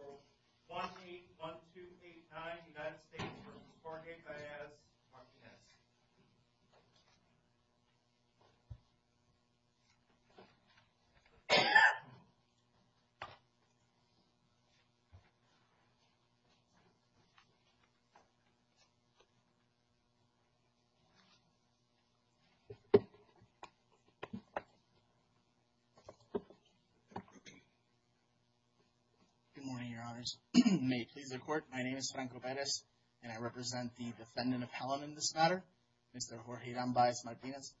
No. 181289, United States v. Barney Baez-Martinez Good morning, your honors. May it please the court, my name is Franco Baez and I represent the defendant appellant in this matter, Mr. Jorge Ram Baez-Martinez.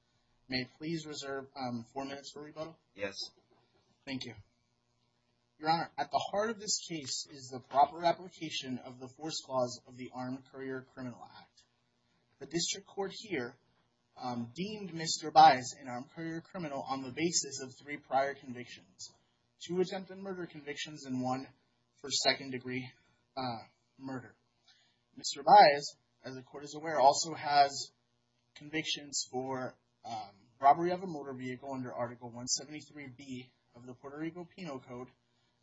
May it please reserve four minutes for rebuttal? Yes. Thank you. Your honor, at the heart of this case is the proper application of the force clause of the Armed Career Criminal Act. The district court here deemed Mr. Baez an Armed Career Criminal on the basis of three prior convictions. Two attempt and murder convictions and one for second degree murder. Mr. Baez, as the court is aware, also has convictions for robbery of a motor vehicle under Article 173B of the Puerto Rico Penal Code,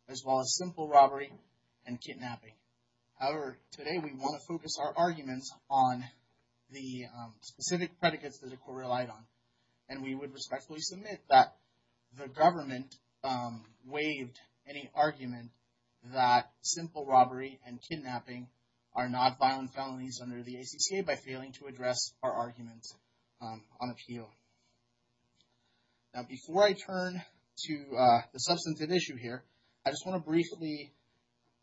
as well as simple robbery and kidnapping. However, today we want to focus our arguments on the specific predicates that the court relied on and we would respectfully submit that the government waived any argument that simple robbery and kidnapping are not violent felonies under the ACCA by failing to address our arguments on appeal. Now, before I turn to the substantive issue here, I just want to briefly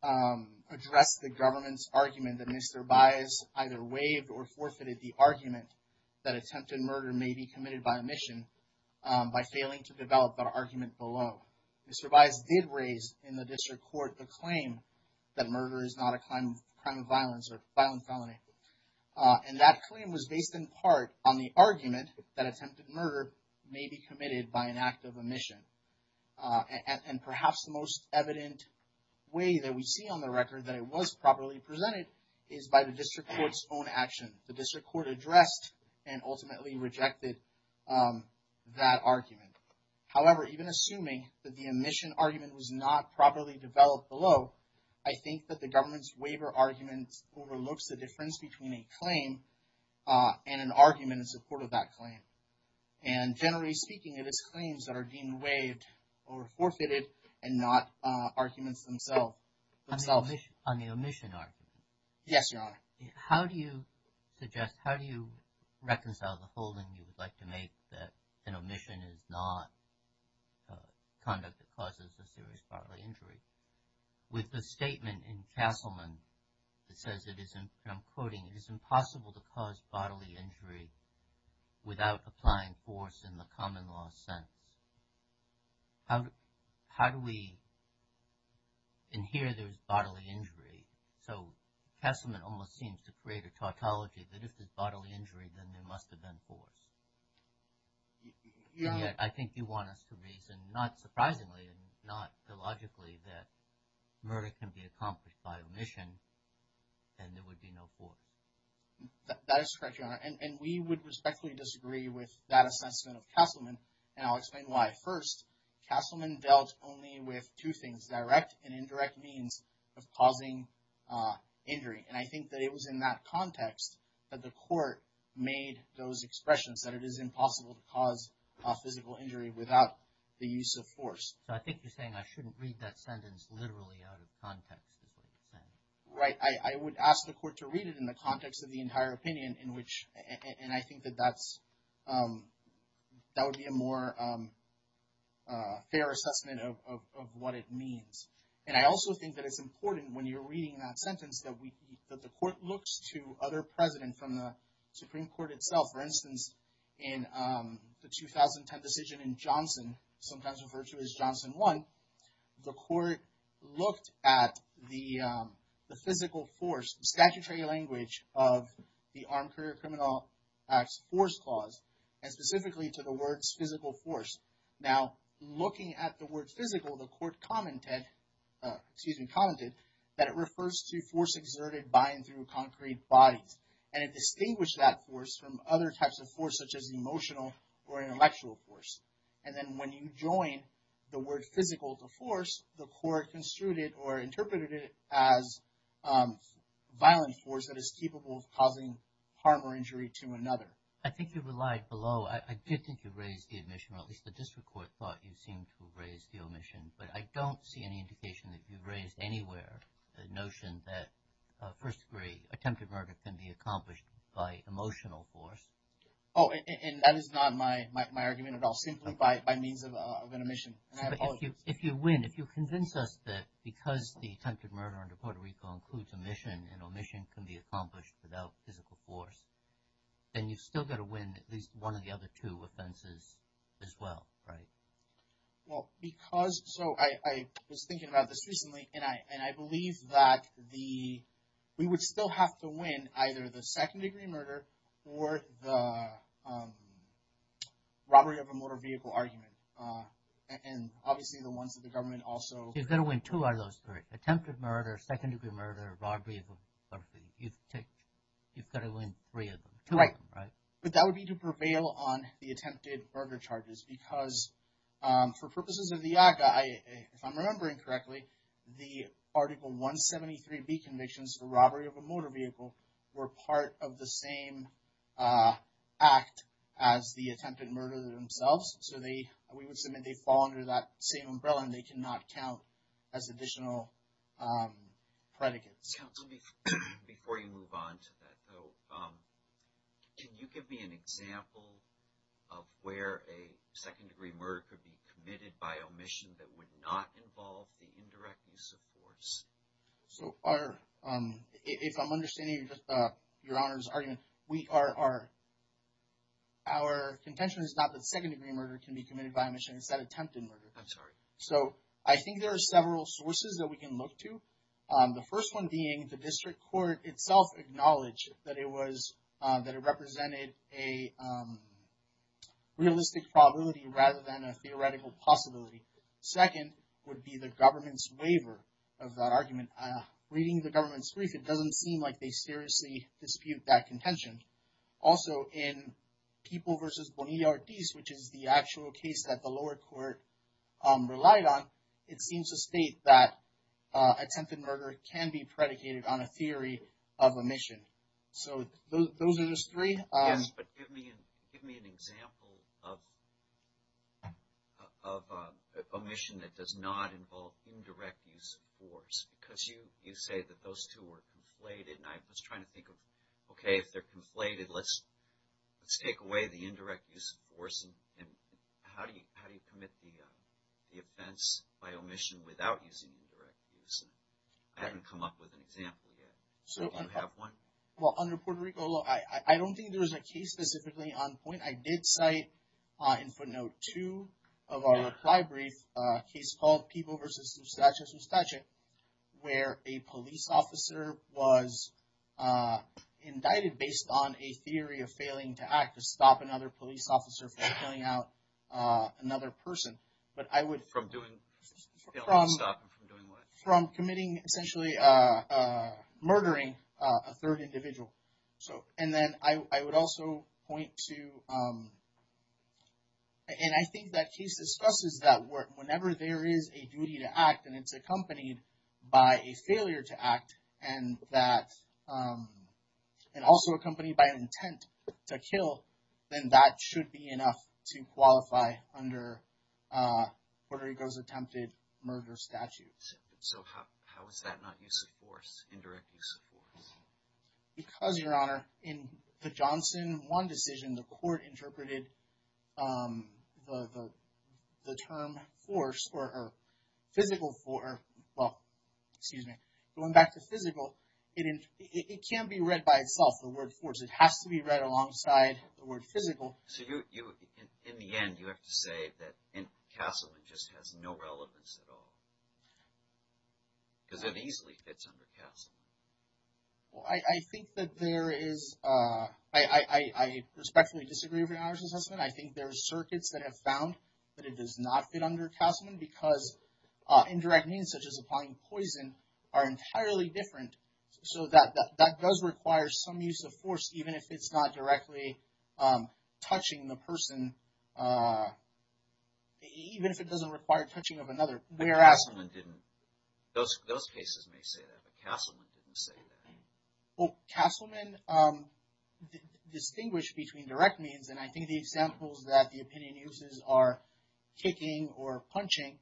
address the government's argument that Mr. Baez either waived or forfeited the argument that attempt and murder may be committed by omission by failing to develop that argument below. Mr. Baez did raise in the district court the claim that murder is not a crime of violence or violent felony. And that claim was based in part on the argument that attempted murder may be committed by an act of omission. And perhaps the most evident way that we see on the record that it was properly presented is by the district court's own action. The district court addressed and ultimately rejected that argument. However, even assuming that the omission argument was not properly developed below, I think that the government's waiver argument overlooks the difference between a claim and an argument in support of that claim. And generally speaking, it is claims that are deemed waived or forfeited and not arguments themselves. On the omission argument. Yes, Your Honor. How do you suggest, how do you reconcile the holding you would like to make that an omission is not conduct that causes a serious bodily injury with the statement in Castleman that says it is, and I'm quoting, it is impossible to cause bodily injury without applying force in the common law sense. How do we, and here there's bodily injury, so Castleman almost seems to create a tautology that if there's bodily injury, then there must have been force. And yet I think you want us to reason, not surprisingly and not illogically, that murder can be accomplished by omission and there would be no force. That is correct, Your Honor. And we would respectfully disagree with that assessment of Castleman. And I'll explain why. First, Castleman dealt only with two things, direct and indirect means of causing injury. And I think that it was in that context that the court made those expressions that it is impossible to cause a physical injury without the use of force. So I think you're saying I shouldn't read that sentence literally out of context. Right. I would ask the court to read it in the context of the entire opinion in which, and I think that that would be a more fair assessment of what it means. And I also think that it's important when you're reading that sentence that the court looks to other president from the Supreme Court itself. For instance, in the 2010 decision in Johnson, sometimes referred to as Johnson 1, the court looked at the physical force, statutory language of the Armed Career Criminal Act's force clause and specifically to the words physical force. Now, looking at the word physical, the court commented, excuse me, commented that it refers to force exerted by and through concrete bodies. And it distinguished that force from other types of force, such as emotional or intellectual force. And then when you join the word physical to force, the court construed it or interpreted it as violent force that is capable of causing harm or injury to another. I think you relied below. I did think you raised the admission, or at least the district court thought you seemed to have raised the omission. But I don't see any indication that you've raised anywhere the notion that first degree attempted murder can be accomplished by emotional force. Oh, and that is not my argument at all, simply by means of an omission. If you win, if you convince us that because the attempted murder under Puerto Rico includes omission and omission can be accomplished without physical force, then you've still got to win at least one of the other two offenses as well, right? Well, because so I was thinking about this recently and I believe that we would still have to win either the second degree murder or the robbery of a motor vehicle argument. And obviously the ones that the government also- You've got to win two out of those three. Attempted murder, second degree murder, robbery, you've got to win three of them, two of them, right? But that would be to prevail on the attempted murder charges because for purposes of the ACA, if I'm remembering correctly, the Article 173B convictions for the same act as the attempted murder themselves. So they, we would submit they fall under that same umbrella and they cannot count as additional predicates. Counsel, before you move on to that though, can you give me an example of where a second degree murder could be committed by omission that would not involve the indirect use of force? So our, if I'm understanding your honor's argument, we are, our contention is not that second degree murder can be committed by omission, it's that attempted murder. I'm sorry. So I think there are several sources that we can look to. The first one being the district court itself acknowledged that it was, that it represented a realistic probability rather than a theoretical possibility. Second would be the government's waiver of that argument. Reading the government's brief, it doesn't seem like they seriously dispute that contention. Also in People v. Bonilla-Ortiz, which is the actual case that the lower court relied on, it seems to state that attempted murder can be predicated on a theory of omission. So those are just three. Yes, but give me, give me an example of, of omission that does not involve indirect use of force. Because you, you say that those two are conflated and I was trying to think of, okay, if they're conflated, let's, let's take away the indirect use of force and, and how do you, how do you commit the, the offense by omission without using indirect use? I haven't come up with an example yet. Do you have one? Well, under Puerto Rico law, I don't think there was a case specifically on point. I did cite in footnote two of our reply brief, a case called People v. Zustache-Zustache, where a police officer was indicted based on a theory of failing to act to stop another police officer from killing out another person. But I would... From doing... From committing, essentially, murdering a third individual. So, and then I would also point to, and I think that case discusses that whenever there is a duty to act and it's accompanied by a failure to act and that, and also accompanied by an intent to kill, then that should be enough to qualify under Puerto Rico's attempted murder statutes. So how, how is that not use of force, indirect use of force? Because, Your Honor, in the Johnson one decision, the court interpreted the, the, the term force or physical force, well, excuse me, going back to physical, it, it can't be read by itself, the word force. It has to be read alongside the word physical. So you, you, in the end, you have to say that in Castleman just has no relevance at all. Because it easily fits under Castleman. Well, I, I think that there is, I, I, I respectfully disagree with Your Honor's assessment. I think there are circuits that have found that it does not fit under Castleman, because indirect means such as applying poison are entirely different. So that, that does require some use of force, even if it's not directly touching the person, even if it doesn't require touching of another. But Castleman didn't, those, those cases may say that, but Castleman didn't say that. Well, Castleman distinguished between direct means, and I think the examples that the opinion uses are kicking or punching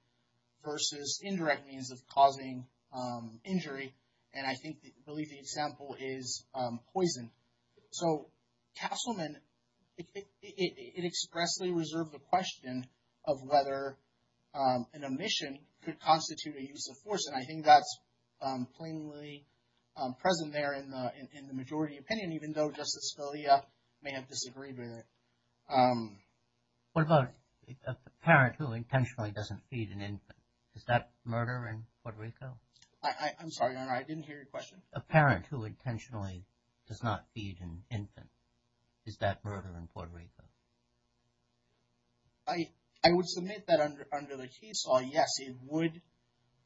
versus indirect means of causing injury. And I think, I believe the example is poison. So Castleman, it expressly reserved the question of whether an omission could constitute a use of force. And I think that's plainly present there in the, in the majority opinion, even though Justice Scalia may have disagreed with it. What about a parent who intentionally doesn't feed an infant? Is that murder in Puerto Rico? I'm sorry, Your Honor, I didn't hear your question. A parent who intentionally does not feed an infant. Is that murder in Puerto Rico? I, I would submit that under, under the key saw, yes, it would,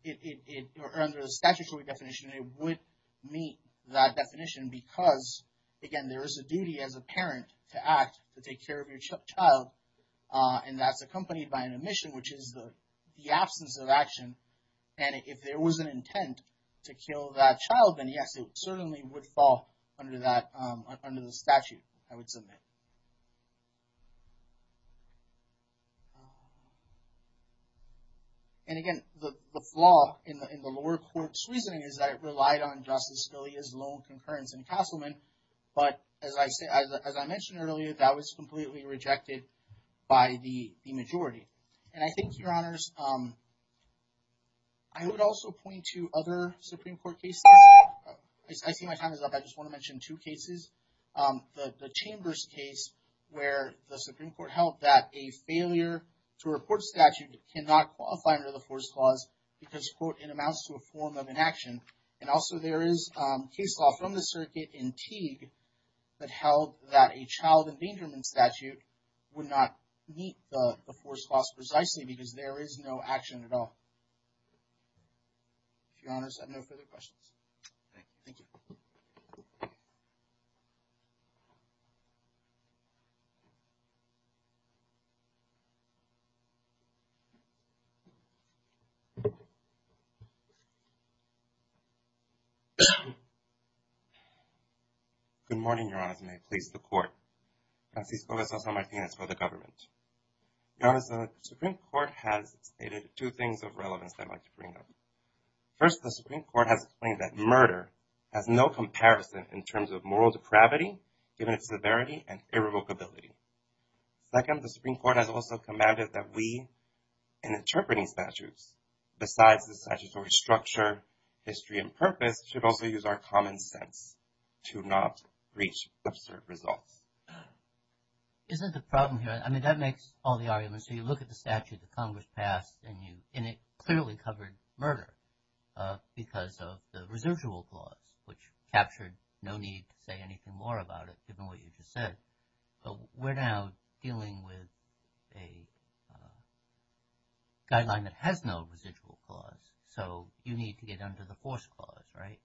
it, it, it, or under the statutory definition, it would meet that definition because, again, there is a duty as a parent to act to take care of your child. And that's accompanied by an omission, which is the, the absence of action. And if there was an intent to kill that child, then yes, it certainly would fall under that, under the statute, I would submit. And again, the, the flaw in the, in the lower court's reasoning is that it relied on Justice Scalia's lone concurrence in Castleman. But as I say, as I mentioned earlier, that was completely rejected by the, the majority. And I think, Your Honors, I would also point to other Supreme Court cases. I see my time is up. I just want to mention two cases. The, the Chambers case where the Supreme Court held that a failure to report statute cannot qualify under the Fourth Clause because, quote, it amounts to a form of inaction. And also there is case law from the circuit in Teague that held that a child endangerment statute would not meet the, the Fourth Clause precisely because there is no action at all. Your Honors, I have no further questions. Okay, thank you. Good morning, Your Honors, and may it please the Court. Francisco de Sousa Martinez for the government. Your Honors, the Supreme Court has stated two things of relevance that I'd like to bring up. First, the Supreme Court has explained that murder has no comparison in terms of moral depravity given its severity and irrevocability. Second, the Supreme Court has also commanded that we, in interpreting statutes, besides the statutory structure, history, and purpose, should also use our common sense to not reach absurd results. Isn't the problem here, I mean, that makes all the arguments. So you look at the statute that Congress passed and you, and it clearly covered murder because of the residual clause, which captured no need to say anything more about it given what you just said. But we're now dealing with a guideline that has no residual clause, so you need to get under the Fourth Clause, right?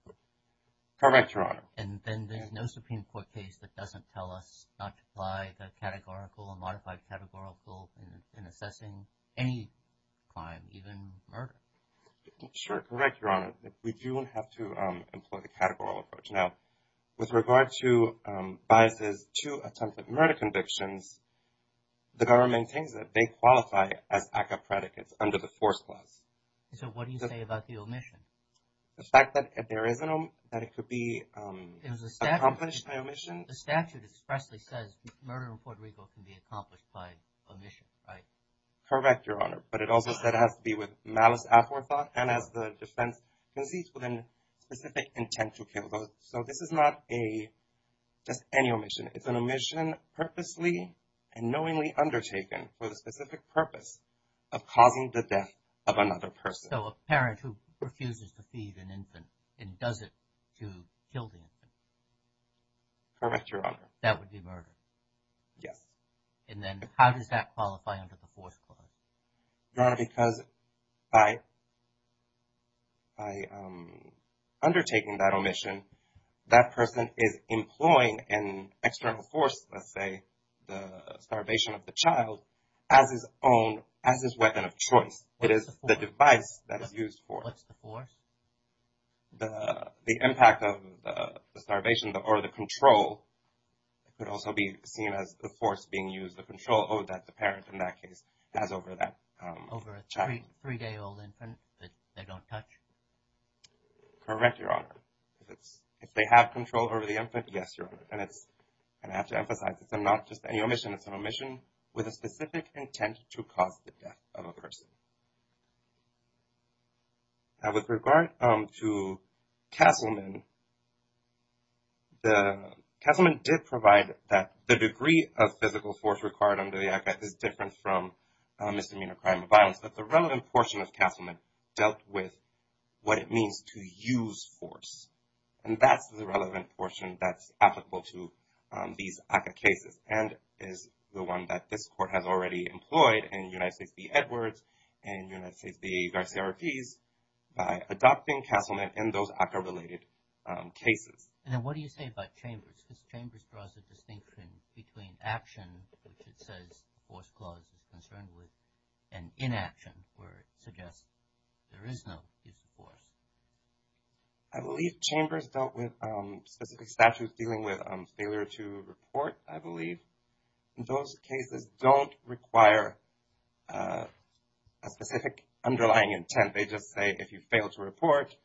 Correct, Your Honor. And then there's no Supreme Court case that doesn't tell us not to apply the categorical or modified categorical in assessing any crime, even murder. Sure, correct, Your Honor. We do have to employ the categorical approach. Now, with regard to biases to attempted murder convictions, the government thinks that they qualify as ACCA predicates under the Fourth Clause. So what do you say about the omission? The fact that there is an omission, that it could be accomplished by omission? The statute expressly says murder in Puerto Rico can be accomplished by omission, right? Correct, Your Honor. But it also said it has to be with malice aforethought and as the defense concedes with a specific intent to kill those. So this is not a just any omission. It's an omission purposely and knowingly undertaken for the specific purpose of causing the death of another person. So a parent who refuses to feed an infant and does it to kill the infant? Correct, Your Honor. That would be murder? Yes. And then how does that qualify under the Fourth Clause? Your Honor, because by undertaking that omission, that person is employing an external force, let's say the starvation of the child, as his own, as his weapon of choice. It is the device that is used for it. What's the force? The impact of the starvation or the control could also be seen as the force being used, the control that the parent in that case has over that child. Over a three-day-old infant that they don't touch? Correct, Your Honor. If they have control over the infant, yes, Your Honor. And I have to emphasize that it's not just any omission. It's an omission with a specific intent to cause the death of a child. Castleman did provide that the degree of physical force required under the ACCA is different from misdemeanor crime or violence. But the relevant portion of Castleman dealt with what it means to use force. And that's the relevant portion that's applicable to these ACCA cases and is the one that this Court has already employed in United States v. Edwards and United States v. Garcia-Ruiz by adopting Castleman in those ACCA-related cases. And then what do you say about Chambers? Because Chambers draws a distinction between action, which it says the force clause is concerned with, and inaction, where it suggests there is no use of force. I believe Chambers dealt with specific statutes dealing with failure to report, I believe. Those cases don't require a specific underlying intent. They just say, if you fail to report,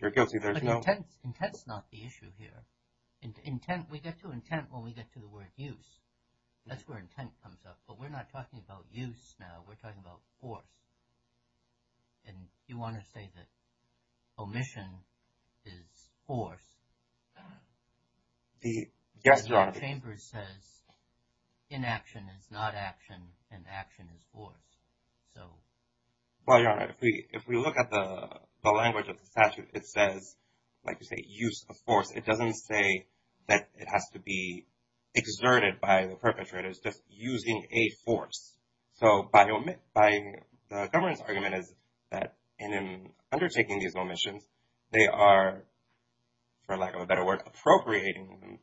you're guilty. But intent's not the issue here. We get to intent when we get to the word use. That's where intent comes up. But we're not talking about use now. We're talking about force. And you want to say that omission is force. Yes, Your Honor. Chambers says inaction is not action, and action is force. So. Well, Your Honor, if we look at the language of the statute, it says, like you say, use of force. It doesn't say that it has to be exerted by the perpetrators, just using a force. So by the government's argument is that in undertaking these omissions, they are, for lack of a better word, appropriating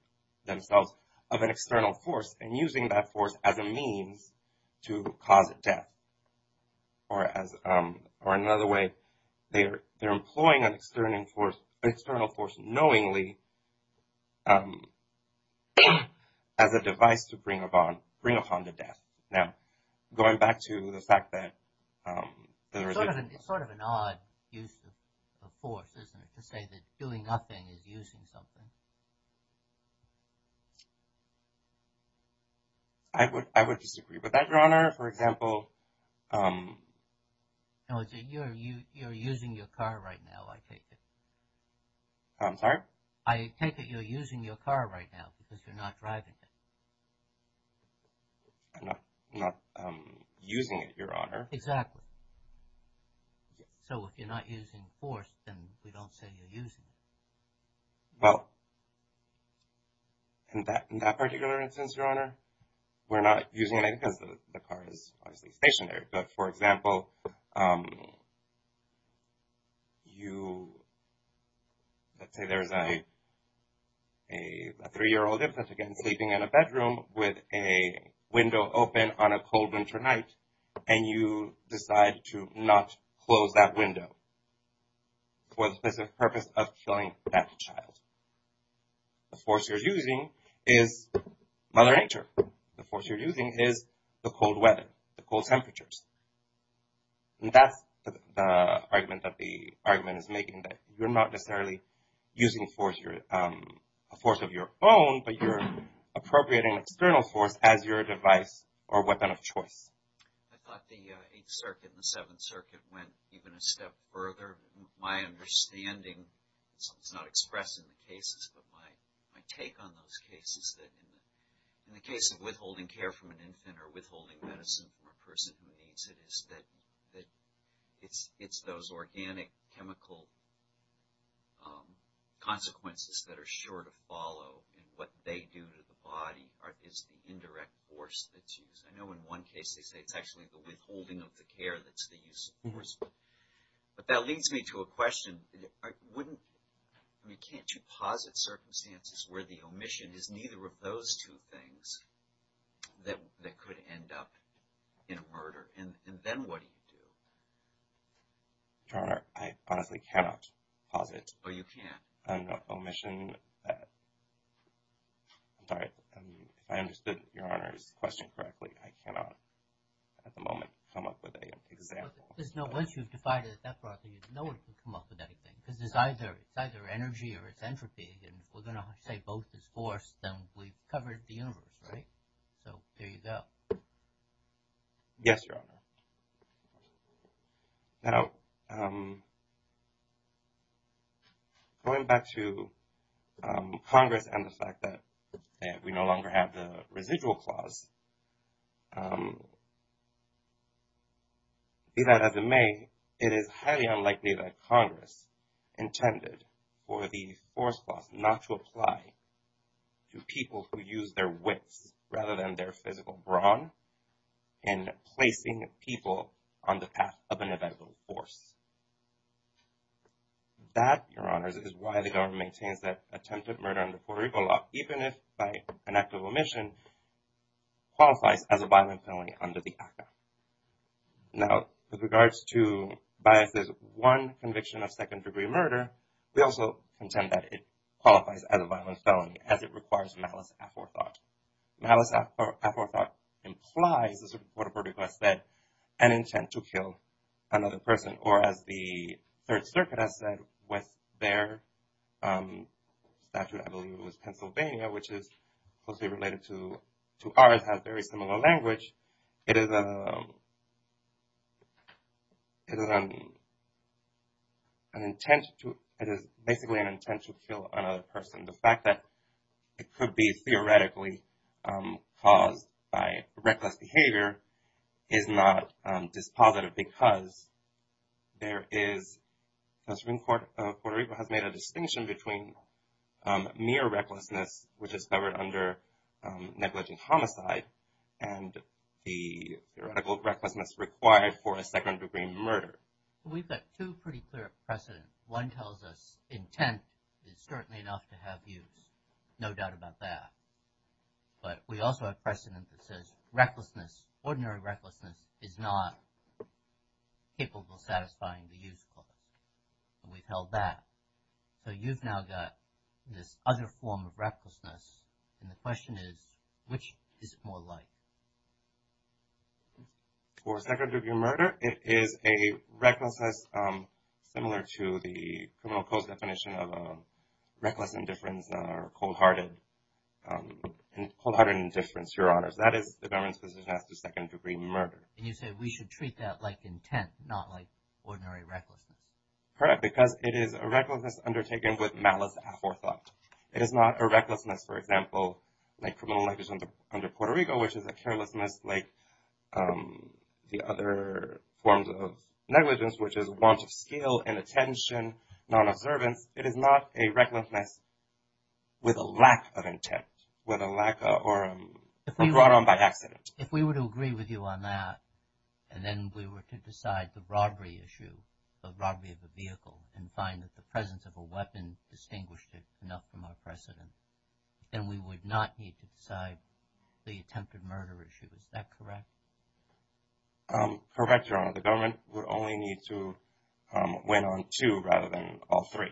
themselves of an external force and using that force as a means to cause death. Or another way, they're employing an external force knowingly as a device to bring upon the death. Now, going back to the fact that. It's sort of an odd use of force, isn't it, to say that doing nothing is using something. I would I would disagree with that, Your Honor, for example. No, you're using your car right now, I take it. I'm sorry? I take it you're using your car right now because you're not driving it. I'm not using it, Your Honor. Exactly. So if you're not using force, then we don't say you're using it. Well. In that in that particular instance, Your Honor, we're not using it because the car is obviously stationary, but for example. You. Let's say there's a a three year old infant, again, sleeping in a bedroom with a window open on a cold winter night and you decide to not close that window. For the specific purpose of killing that child. The force you're using is Mother Nature. The force you're using is the cold weather, the cold temperatures. And that's the argument that the argument is making, that you're not necessarily using force, you're a force of your own, but you're appropriating an external force as your device or weapon of choice. I thought the Eighth Circuit and the Seventh Circuit went even a step further. My understanding, it's not expressed in the cases, but my take on those cases that in the case of withholding care from an infant or withholding medicine from a person who needs it is that it's it's those organic chemical consequences that are sure to follow and what they do to the it's actually the withholding of the care that's the use of force. But that leads me to a question. I wouldn't, I mean, can't you posit circumstances where the omission is neither of those two things that that could end up in a murder? And then what do you do? Your Honor, I honestly cannot posit. Oh, you can't. An omission. I'm sorry, I understood Your Honor's question correctly. I cannot at the moment come up with an example. There's no, once you've defied it that broadly, no one can come up with anything because it's either it's either energy or it's entropy. And we're going to say both is force, then we've covered the universe, right? So there you go. Yes, Your Honor. Now, going back to Congress and the fact that we no longer have the residual clause, be that as it may, it is highly unlikely that Congress intended for the force clause not to on the path of inevitable force. That, Your Honor, is why the government maintains that attempted murder under Puerto Rico law, even if by an act of omission, qualifies as a violent felony under the ACA. Now, with regards to Bias' one conviction of second degree murder, we also contend that it qualifies as a violent felony as it requires malice aforethought. Malice aforethought implies, as the Supreme Court of Puerto Rico has said, an intent to kill another person. Or as the Third Circuit has said with their statute, I believe it was Pennsylvania, which is closely related to ours, has very similar language. It is basically an intent to kill another person. The fact that it could be theoretically caused by reckless behavior is not dispositive because there is, the Supreme Court of Puerto Rico has made a distinction between mere recklessness, which is covered under negligent homicide, and the theoretical recklessness required for a second degree murder. We've got two pretty clear precedents. One tells us intent is certainly enough to have use. No doubt about that. But we also have precedent that says recklessness, ordinary recklessness, is not capable of satisfying the use clause. We've held that. So you've now got this other form of recklessness. And the question is, which is it more like? For second degree murder, it is a recklessness similar to the criminal code's definition of a cold-hearted indifference, Your Honors. That is, the government's position as to second degree murder. And you said we should treat that like intent, not like ordinary recklessness. Correct. Because it is a recklessness undertaken with malice aforethought. It is not a recklessness, for example, like criminal negligence under Puerto Rico, which is a carelessness like the other forms of negligence, which is want of skill, inattention, non-observance. It is not a recklessness with a lack of intent, or brought on by accident. If we were to agree with you on that, and then we were to decide the robbery issue, the robbery of a vehicle, and find that the presence of a weapon distinguished it enough from our precedent, then we would not need to decide the attempted murder issue. Is that correct? Correct, Your Honor. The government would only need to win on two rather than all three.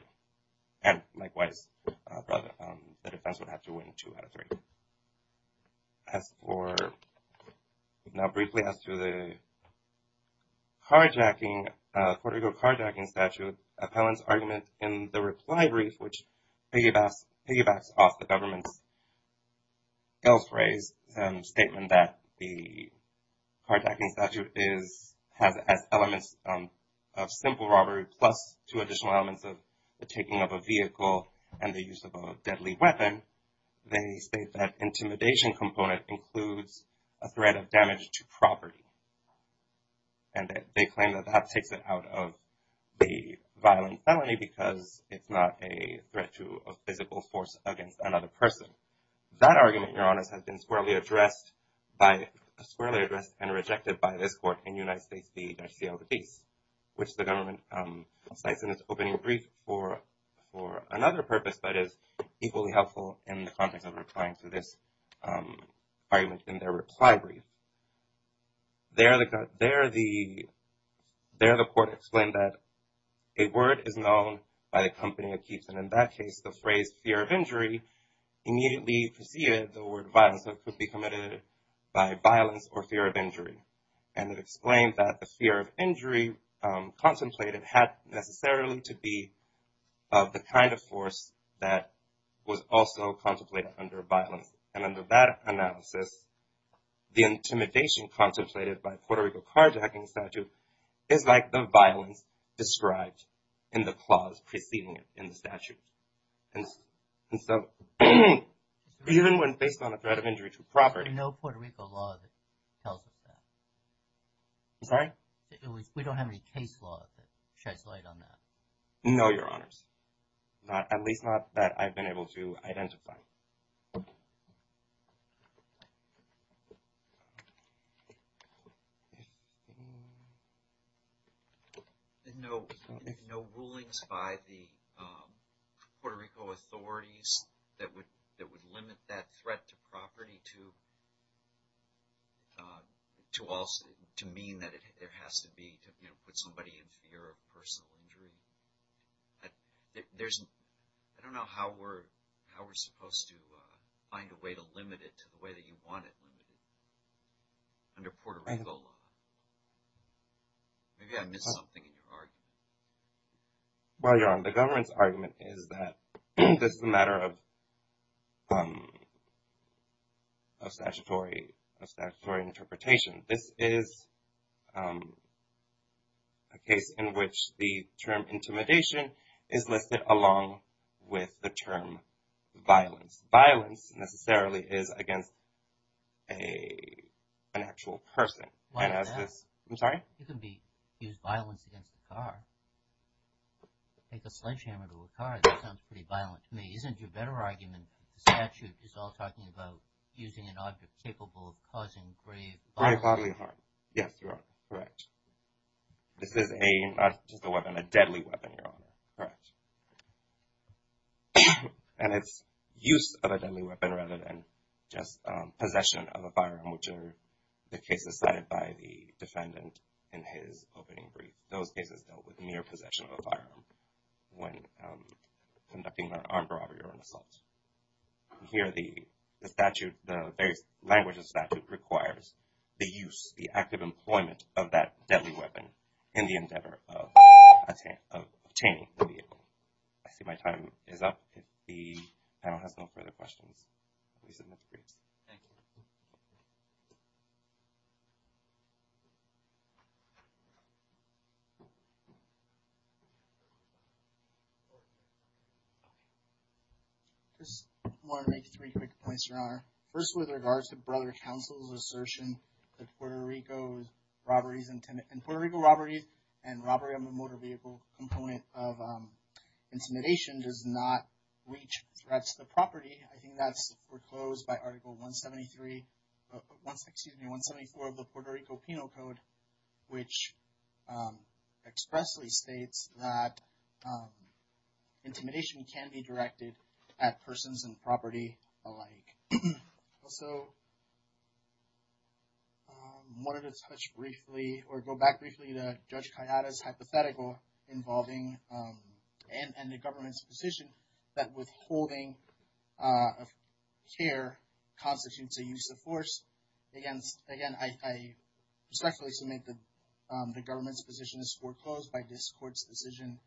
And likewise, the defense would have to win two out of three. As for, now briefly as to the carjacking, Puerto Rico carjacking statute, appellant's argument in the reply brief, which piggybacks off the government's two additional elements of the taking of a vehicle and the use of a deadly weapon, they state that intimidation component includes a threat of damage to property. And they claim that that takes it out of the violent felony because it's not a threat to a physical force against another person. That argument, Your Honor, has been squarely addressed by, squarely addressed and rejected by this court in United States v. Garcia Ortiz, which the government cites in its opening brief for another purpose that is equally helpful in the context of replying to this argument in their reply brief. There, the court explained that a word is known by the company that keeps it. And in that case, the phrase fear of injury immediately preceded the word violence that could be committed by violence or fear of injury. And it explained that the fear of injury contemplated had necessarily to be of the kind of force that was also contemplated under violence. And under that analysis, the intimidation contemplated by Puerto Rico carjacking statute is like the violence described in the clause preceding it in the statute. And so, even when based on a threat of injury to property. No Puerto Rico law tells us that. I'm sorry? We don't have any case law that sheds light on that. No, Your Honors. Not, at least not that I've been able to identify. No, no rulings by the Puerto Rico authorities that would, that would limit that threat to property to mean that it has to be to put somebody in fear of personal injury. I, there's, I don't know how we're, how we're supposed to find a way to limit it to the way that you want it under Puerto Rico law. Maybe I missed something in your argument. Well, Your Honor, the government's argument is that this is a matter of statutory, of statutory interpretation. This is a case in which the term intimidation is listed along with the term violence. Violence necessarily is against a, an actual person. And as this, I'm sorry? You can be, use violence against a car. Take a sledgehammer to a car. That sounds pretty violent to me. Isn't your better argument, statute is all talking about using an object capable of causing grave bodily harm? Yes, Your Honor. Correct. This is a, not just a weapon, a deadly weapon, Your Honor. Correct. And it's use of a deadly weapon rather than just possession of a firearm, which are the cases cited by the defendant in his opening brief. Those cases dealt with mere possession of a firearm when conducting an armed robbery or an assault. Here, the statute, the various languages of statute requires the use, the active employment of that deadly weapon in the endeavor of obtaining the vehicle. I see my time is up. If the panel has no further questions, we submit the briefs. Thank you. Just want to make three quick points, Your Honor. First, with regards to Brother Counsel's assertion that Puerto Rico's robberies and, and Puerto Rico robberies and robbery of a motor vehicle component of intimidation does not reach threats to the foreclosed by Article 173, excuse me, 174 of the Puerto Rico Penal Code, which expressly states that intimidation can be directed at persons and property alike. Also, wanted to touch briefly or go back briefly to Judge Callada's hypothetical involving, and the government's position that withholding of care constitutes a use of force against, again, I respectfully submit that the government's position is foreclosed by this court's decision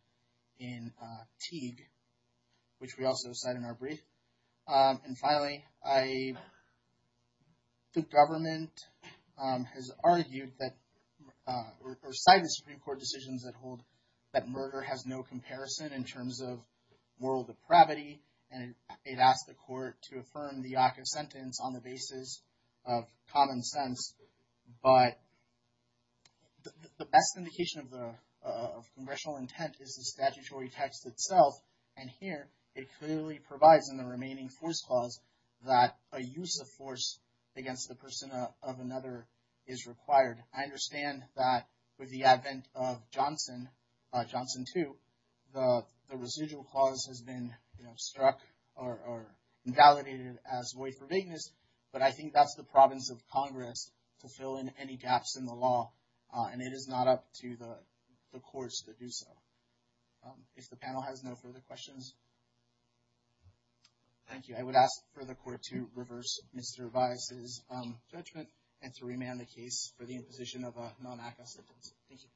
in Teague, which we also cite in our brief. And finally, the government has argued that or cited Supreme Court decisions that hold that murder has no comparison in terms of moral depravity. And it asked the court to affirm the ACA sentence on the basis of common sense. But the best indication of the, of congressional intent is the statutory text itself. And here it clearly provides in the remaining force clause that a use of force against the person of another is required. I understand that with the advent of Johnson, Johnson 2, the residual clause has been struck or validated as void for vagueness, but I think that's the province of Congress to fill in any gaps in the law. And it is not up to the courts to do so. If the panel has no further questions. Thank you. I would ask for the court to reverse Mr. Vias' judgment and to remand the case for the imposition of a non-ACA sentence. Thank you.